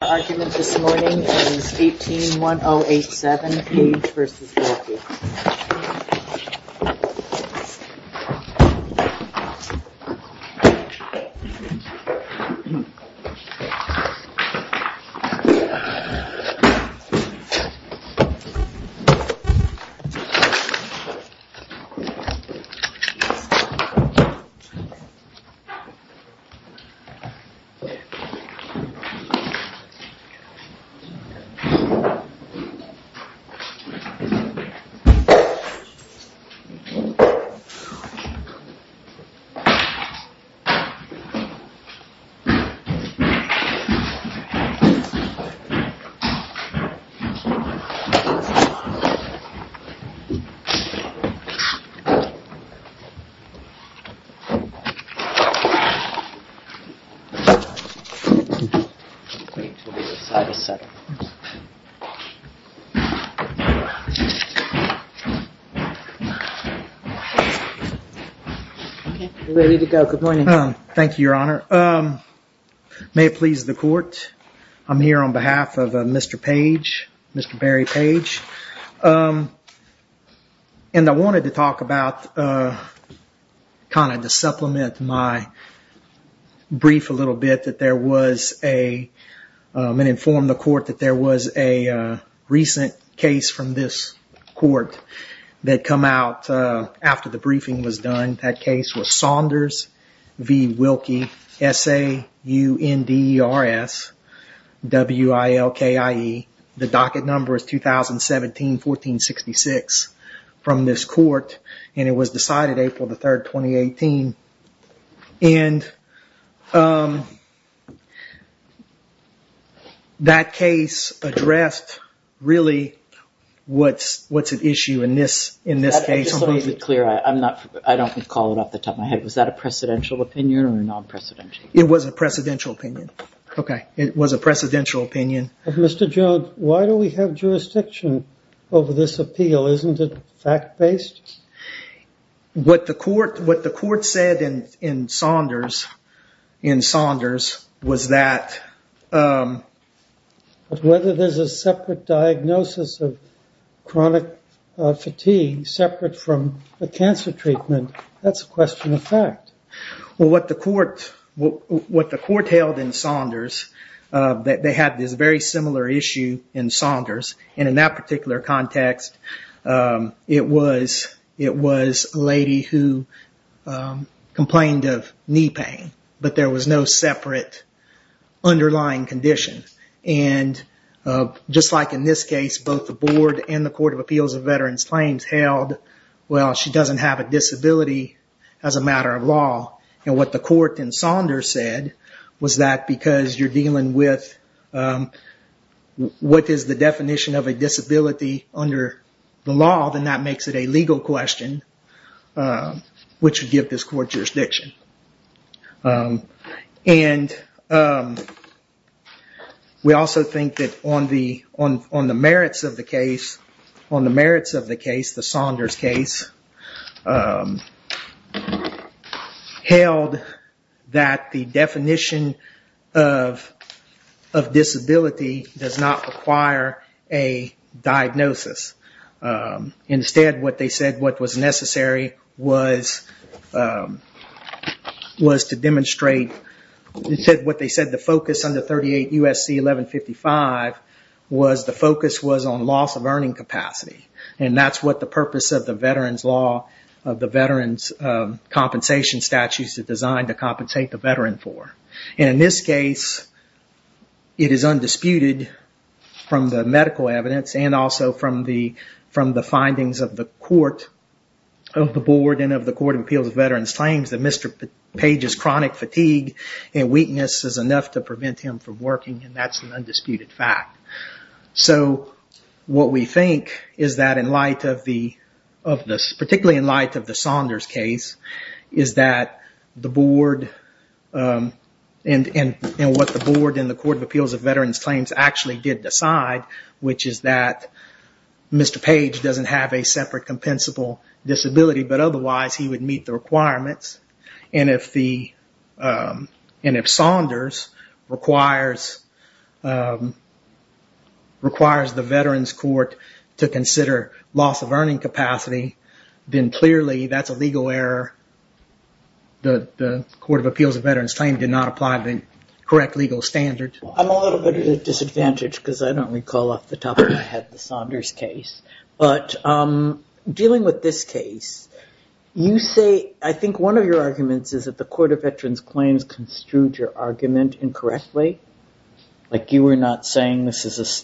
The argument this morning is 18-1087, Page v. Wilkie. The argument this morning is 18-1087, Page v. Wilkie. Thank you, Your Honor. May it please the court, I'm here on behalf of Mr. Page, Mr. Barry Page, and I wanted to talk about, kind of to supplement my brief a little bit, that there was a and inform the court that there was a recent case from this court that come out after the briefing was done. That case was Saunders v. Wilkie, S-A-U-N-D-E-R-S-W-I-L-K-I-E. The docket number is 2017-14-66 from this court, and it was decided April the 3rd, 2018. And that case addressed really what's at issue in this case. I just want to be clear, I don't recall it off the top of my head. Was that a precedential opinion or a non-precedential? It was a precedential opinion. Okay, it was a precedential opinion. Mr. Jones, why do we have jurisdiction over this appeal? Isn't it fact-based? What the court said in Saunders was that... Whether there's a separate diagnosis of chronic fatigue separate from the cancer treatment, that's a question of fact. What the court held in Saunders, they had this very similar issue in Saunders. And in that particular context, it was a lady who complained of knee pain, but there was no separate underlying condition. And just like in this case, both the board and the Court of Appeals of Veterans Claims held, well, she doesn't have a disability as a matter of law. And what the court in Saunders said was that because you're dealing with what is the definition of a disability under the law, then that makes it a legal question, which would give this court jurisdiction. And we also think that on the merits of the case, the Saunders case, held that the definition of disability does not require a diagnosis. Instead, what they said what was necessary was to demonstrate... What they said the focus under 38 U.S.C. 1155 was the focus was on loss of earning capacity. And that's what the purpose of the veteran's law, of the veteran's compensation statutes are designed to compensate the veteran for. And in this case, it is undisputed from the medical evidence and also from the findings of the court of the board and of the Court of Appeals of Veterans Claims that Mr. Page's chronic fatigue and weakness is enough to prevent him from working, and that's an undisputed fact. So what we think is that in light of this, particularly in light of the Saunders case, is that the board and what the board and the Court of Appeals of Veterans Claims actually did decide, which is that Mr. Page doesn't have a separate compensable disability, but otherwise he would meet the requirements. And if Saunders requires the veterans court to consider loss of earning capacity, then clearly that's a legal error. The Court of Appeals of Veterans Claims did not apply the correct legal standard. I'm a little bit at a disadvantage because I don't recall off the top of my head the Saunders case. But dealing with this case, you say, I think one of your arguments is that the Court of Veterans Claims construed your argument incorrectly. Like you were not saying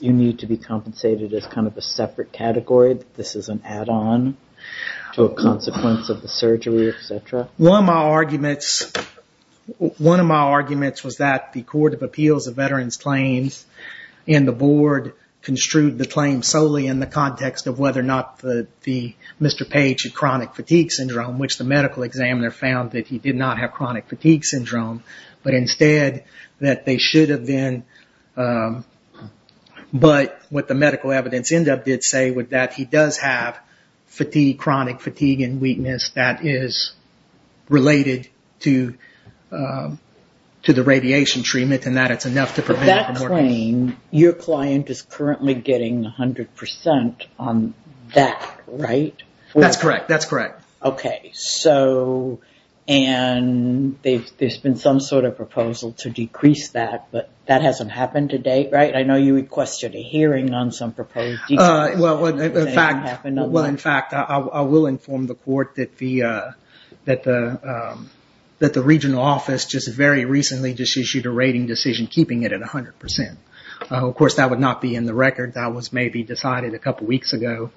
you need to be compensated as kind of a separate category. This is an add-on to a consequence of the surgery, et cetera. One of my arguments was that the Court of Appeals of Veterans Claims and the board construed the claim solely in the context of whether or not Mr. Page had chronic fatigue syndrome, which the medical examiner found that he did not have chronic fatigue syndrome, but instead that they should have been. But what the medical evidence ended up did say was that he does have chronic fatigue and weakness that is related to the radiation treatment and that it's enough to prevent... But that claim, your client is currently getting 100% on that, right? That's correct. That's correct. There's been some sort of proposal to decrease that, but that hasn't happened to date, right? I know you requested a hearing on some proposed... In fact, I will inform the court that the regional office just very recently just issued a rating decision keeping it at 100%. Of course, that would not be in the record. That was maybe decided a couple weeks ago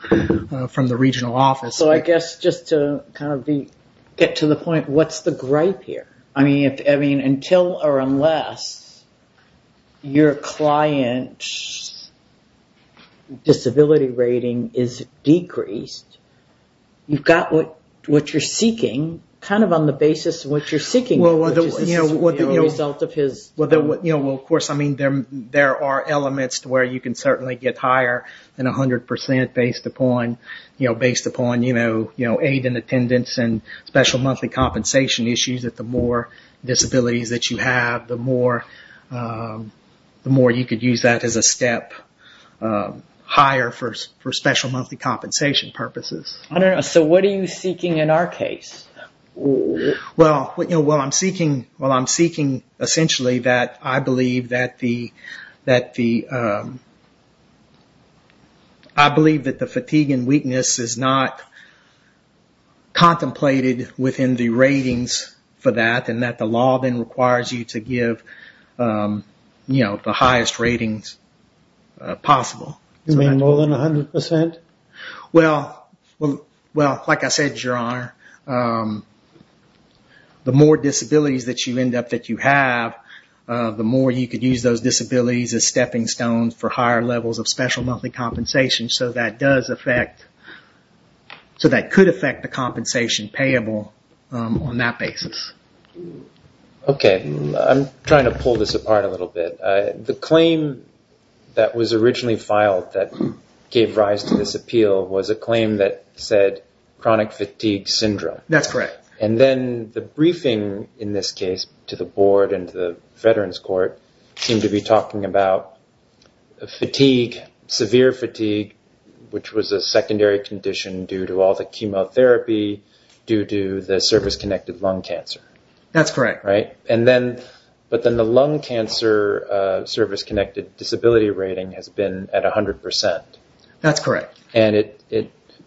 from the regional office. I guess just to kind of get to the point, what's the gripe here? I mean, until or unless your client's disability rating is decreased, you've got what you're seeking, kind of on the basis of what you're seeking, which is the result of his... Of course, there are elements where you can certainly get higher than 100% based upon aid and attendance and special monthly compensation issues that the more disabilities that you have, the more you could use that as a step higher for special monthly compensation purposes. I don't know. So what are you seeking in our case? Well, I'm seeking essentially that I believe that the fatigue and weakness is not contemplated within the ratings for that, and that the law then requires you to give the highest ratings possible. You mean more than 100%? Well, like I said, Your Honor, the more disabilities that you end up that you have, the more you could use those disabilities as stepping stones for higher levels of special monthly compensation so that could affect the compensation payable on that basis. Okay. I'm trying to pull this apart a little bit. So the first thing that came to this appeal was a claim that said chronic fatigue syndrome. That's correct. And then the briefing in this case to the board and to the Veterans Court seemed to be talking about fatigue, severe fatigue, which was a secondary condition due to all the chemotherapy, due to the service-connected lung cancer. That's correct. But then the lung cancer service-connected disability rating has been at 100%. That's correct.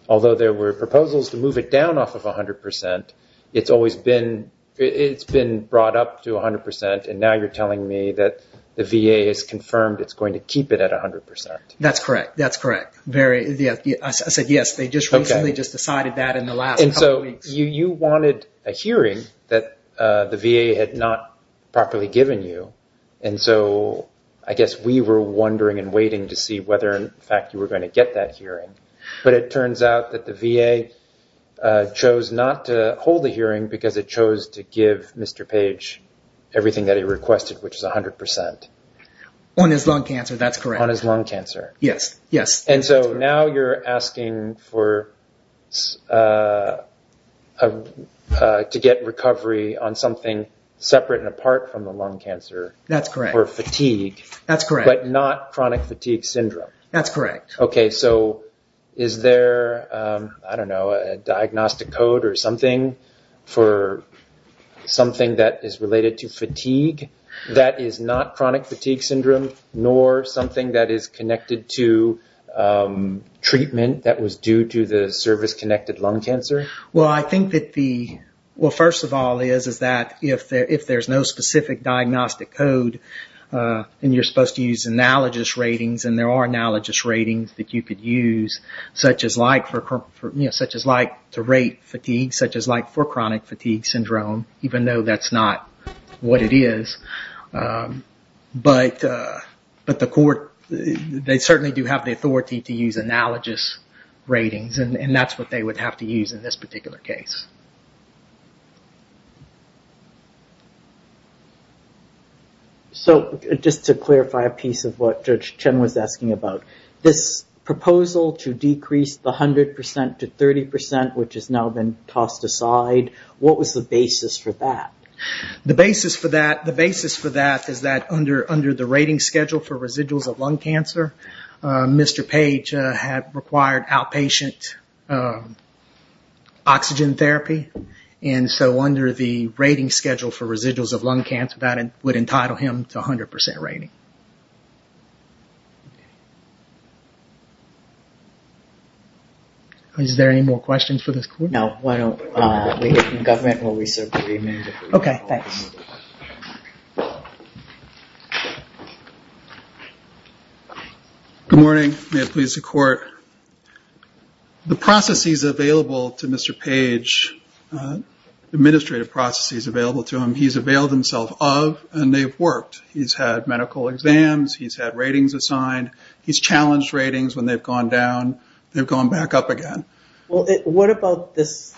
Although there were proposals to move it down off of 100%, it's been brought up to 100%, and now you're telling me that the VA has confirmed it's going to keep it at 100%. That's correct. I said yes. They just recently decided that in the last couple of weeks. You wanted a hearing that the VA had not properly given you, and so I guess we were wondering and waiting to see whether in fact you were going to get that hearing. But it turns out that the VA chose not to hold the hearing because it chose to give Mr. Page everything that he requested, which is 100%. On his lung cancer, that's correct. And so now you're asking to get recovery on something separate and apart from the lung cancer for fatigue, but not chronic fatigue syndrome. That's correct. Okay, so is there, I don't know, a diagnostic code or something for something that is related to fatigue that is not chronic fatigue syndrome, nor something that is connected to treatment that was due to the service-connected lung cancer? Well, first of all, if there's no specific diagnostic code, and you're supposed to use analogous ratings, and there are analogous ratings. There are analogous ratings that you could use, such as to rate fatigue, such as for chronic fatigue syndrome, even though that's not what it is. But they certainly do have the authority to use analogous ratings, and that's what they would have to use in this particular case. So, just to clarify a piece of what Judge Chen was asking about, this proposal to decrease the 100% to 30%, which has now been tossed aside, what was the basis for that? The basis for that is that under the rating schedule for residuals of lung cancer, Mr. Page had required outpatient oxygen therapy. And so under the rating schedule for residuals of lung cancer, that would entitle him to 100% rating. Is there any more questions for this court? No, why don't we get the government and we'll reserve the remand. Good morning. May it please the court. The processes available to Mr. Page, administrative processes available to him, he's availed himself of, and they've worked. He's had medical exams, he's had ratings assigned, he's challenged ratings when they've gone down, they've gone back up again. Well, what about this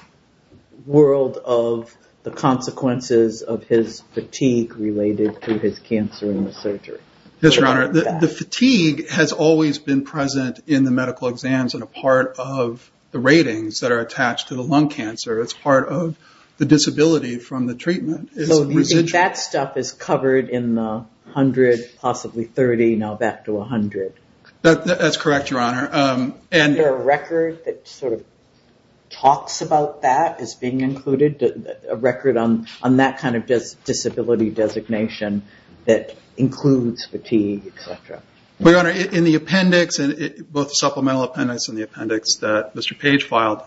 world of the consequences of his fatigue related to his cancer and the surgery? Yes, Your Honor. The fatigue has always been present in the medical exams and a part of the ratings that are attached to the lung cancer. It's part of the disability from the treatment. That stuff is covered in the 100, possibly 30, now back to 100. That's correct, Your Honor. Is there a record that sort of talks about that as being included, a record on that kind of disability designation that includes fatigue, etc.? Your Honor, in the appendix, both the supplemental appendix and the appendix that Mr. Page filed,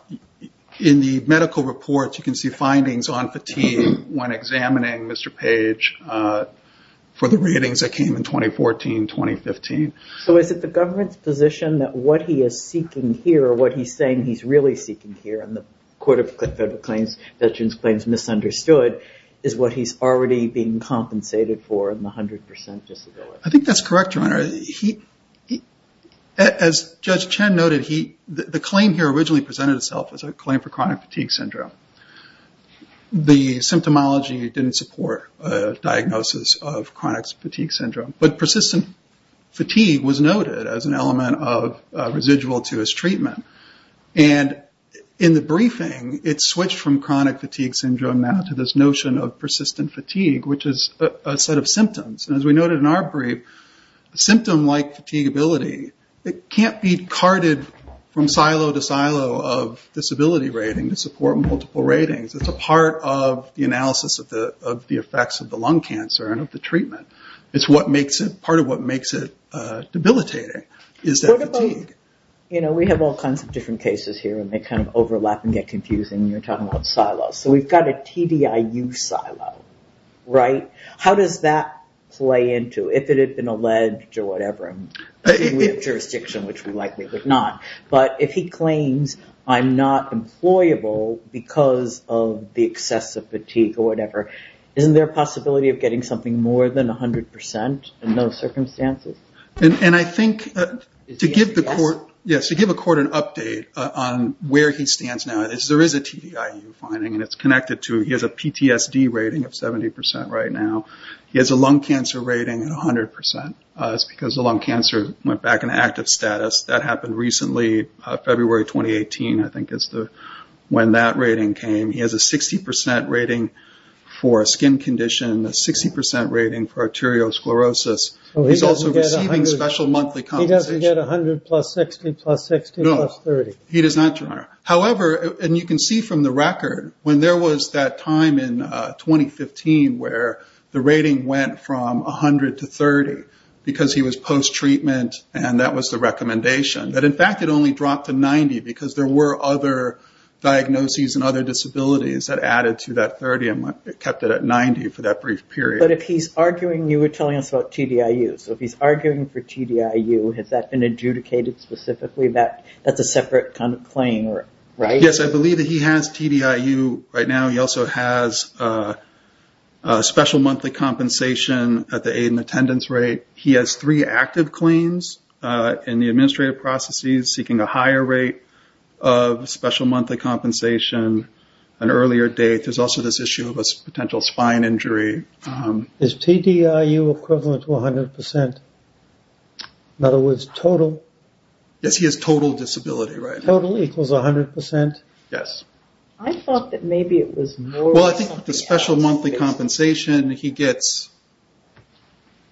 in the medical reports, you can see findings on fatigue when examining Mr. Page for the ratings that came in 2014, 2015. Is it the government's position that what he is seeking here, or what he's saying he's really seeking here in the Court of Federal Claims, Veterans Claims misunderstood, is what he's already being compensated for in the 100% disability? I think that's correct, Your Honor. As Judge Chen noted, the claim here originally presented itself as a claim for chronic fatigue syndrome. The symptomology didn't support diagnosis of chronic fatigue syndrome. Persistent fatigue was noted as an element of residual to his treatment. In the briefing, it switched from chronic fatigue syndrome now to this notion of persistent fatigue, which is a set of symptoms. As we noted in our brief, a symptom like fatigability, it can't be carted from silo to silo of disability rating to support multiple symptoms. It's a part of the analysis of the effects of the lung cancer and of the treatment. It's part of what makes it debilitating, is that fatigue. We have all kinds of different cases here, and they overlap and get confusing, and you're talking about silos. We've got a TDIU silo. How does that play into, if it had been alleged or whatever? But if he claims, I'm not employable because of the excessive fatigue or whatever, isn't there a possibility of getting something more than 100% in those circumstances? To give a court an update on where he stands now, there is a TDIU finding, and it's connected to, he has a PTSD rating of 70% right now. He has a lung cancer rating at 100% because the lung cancer went back into active status. That happened recently, February 2018, I think is when that rating came. He has a 60% rating for a skin condition, 60% rating for arteriosclerosis. He's also receiving special monthly compensation. However, and you can see from the record, when there was that time in 2015 where the rating went from 100 to 30, because he was post-treatment and that was the recommendation, that in fact it only dropped to 90 because there were other diagnoses and other disabilities that added to that 30 and kept it at 90 for that brief period. But if he's arguing, you were telling us about TDIU, so if he's arguing for TDIU, has that been adjudicated specifically? That's a separate claim, right? Yes, I believe that he has TDIU right now. He also has special monthly compensation at the aid and attendance rate. He has three active claims in the administrative processes seeking a higher rate of special monthly compensation an earlier date. There's also this issue of a potential spine injury. Is TDIU equivalent to 100%? In other words, total? Yes, he has total disability right now. Total equals 100%? Yes. I thought that maybe it was more... Well, I think the special monthly compensation he gets,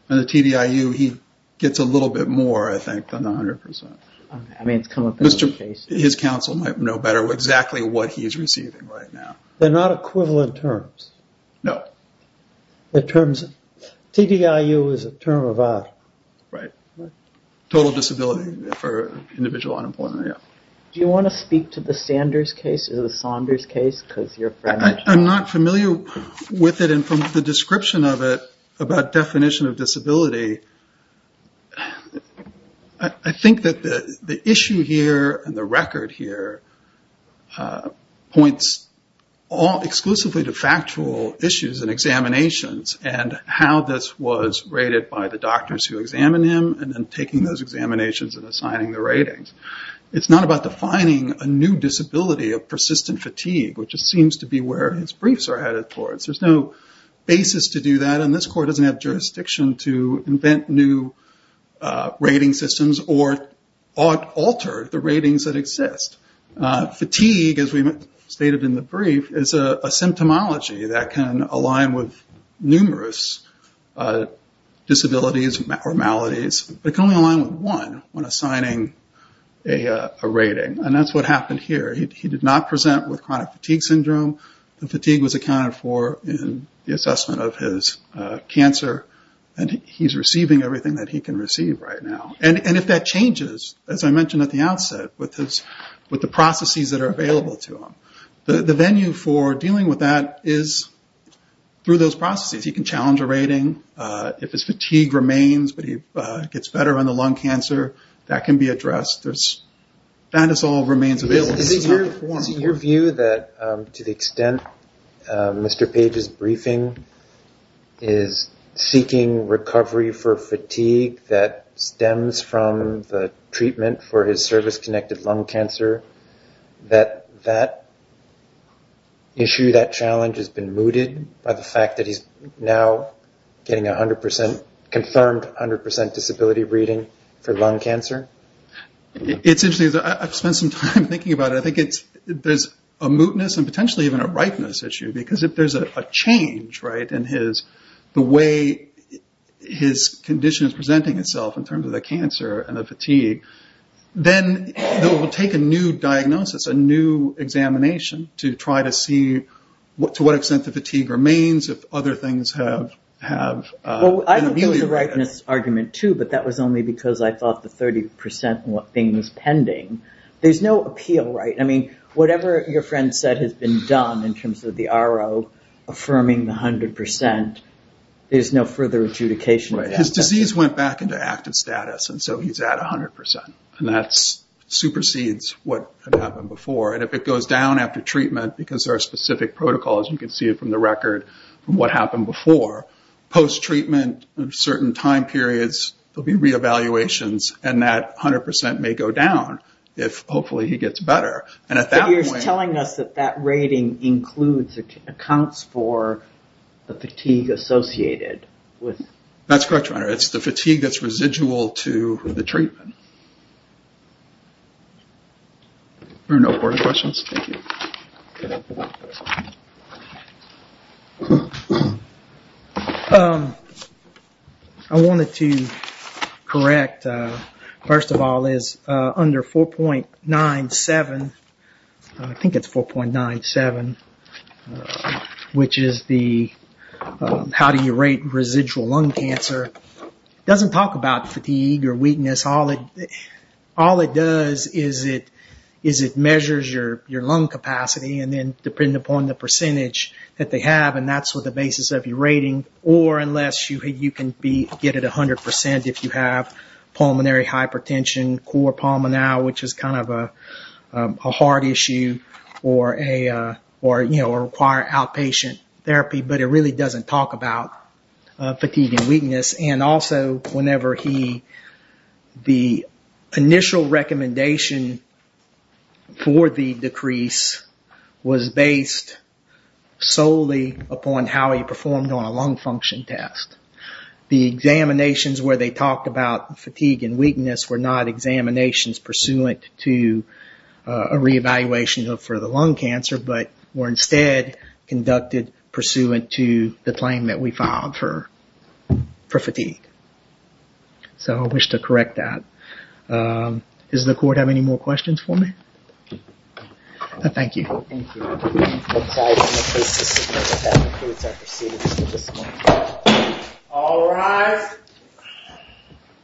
and the TDIU he gets a little bit more, I think, than the 100%. His counsel might know better exactly what he's receiving right now. They're not equivalent terms? No. TDIU is a term of... Total disability for individual unemployment. Do you want to speak to the Sanders case? I'm not familiar with it, and from the description of it, about definition of disability, I think that the issue here, and the record here, points exclusively to factual issues and examinations, and how this was rated by the doctors who examined him, and then taking those examinations and assigning the ratings. It's not about defining a new disability of persistent fatigue, which seems to be where his briefs are headed towards. There's no basis to do that, and this court doesn't have jurisdiction to invent new rating systems, or alter the ratings that exist. Fatigue, as we stated in the brief, is a symptomology that can align with numerous disabilities or maladies. It can only align with one when assigning a rating, and that's what happened here. He did not present with chronic fatigue syndrome. The fatigue was accounted for in the assessment of his cancer, and he's receiving everything that he can receive right now. If that changes, as I mentioned at the outset, with the processes that are available to him, the venue for dealing with that is through those processes. He can challenge a rating if his fatigue remains, but he gets better on the lung cancer. That can be addressed. Dinosaur remains available. Is it your view that to the extent Mr. Page's briefing is seeking recovery for fatigue that stems from the treatment for his service-connected lung cancer, that issue, that challenge has been mooted by the fact that he's now getting a 100% confirmed disability rating for lung cancer? It's interesting. I've spent some time thinking about it. There's a mootness and potentially even a ripeness issue, because if there's a change in the way his condition is presenting itself in terms of the cancer and the fatigue, then it will take a new diagnosis, a new examination, to try to see to what extent the fatigue remains if other things have... I don't think it was a ripeness argument, too, but that was only because I thought the 30% thing was pending. There's no appeal, right? I mean, whatever your friend said has been done in terms of the RO affirming the 100%, there's no further adjudication of that. His disease went back into active status, and so he's at 100%. And that supersedes what had happened before. And if it goes down after treatment, because there are specific protocols, you can see it from the record from what happened before, post-treatment, certain time periods, there'll be re-evaluations, and that 100% may go down, if hopefully he gets better. But you're telling us that that rating accounts for the fatigue associated with... That's correct, your honor. It's the fatigue that's residual to the treatment. Are there no further questions? Thank you. I wanted to correct, first of all, under 4.97, I think it's 4.97, which is the how do you rate residual lung cancer. It doesn't talk about fatigue or weakness. All it does is it or unless you can get it 100% if you have pulmonary hypertension, core pulmonary, which is kind of a heart issue, or require outpatient therapy, but it really doesn't talk about fatigue and weakness. And also whenever he... The initial recommendation for the decrease was based solely upon how he performed on a lung function test. The examinations where they talked about fatigue and weakness were not examinations pursuant to a re-evaluation for the lung cancer, but were instead conducted pursuant to the claim that we filed for fatigue. So I wish to correct that. Does the court have any more questions for me? Thank you. All rise.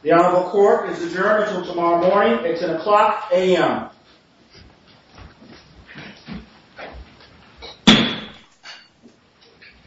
The honorable court is adjourned until tomorrow morning. It's an o'clock a.m.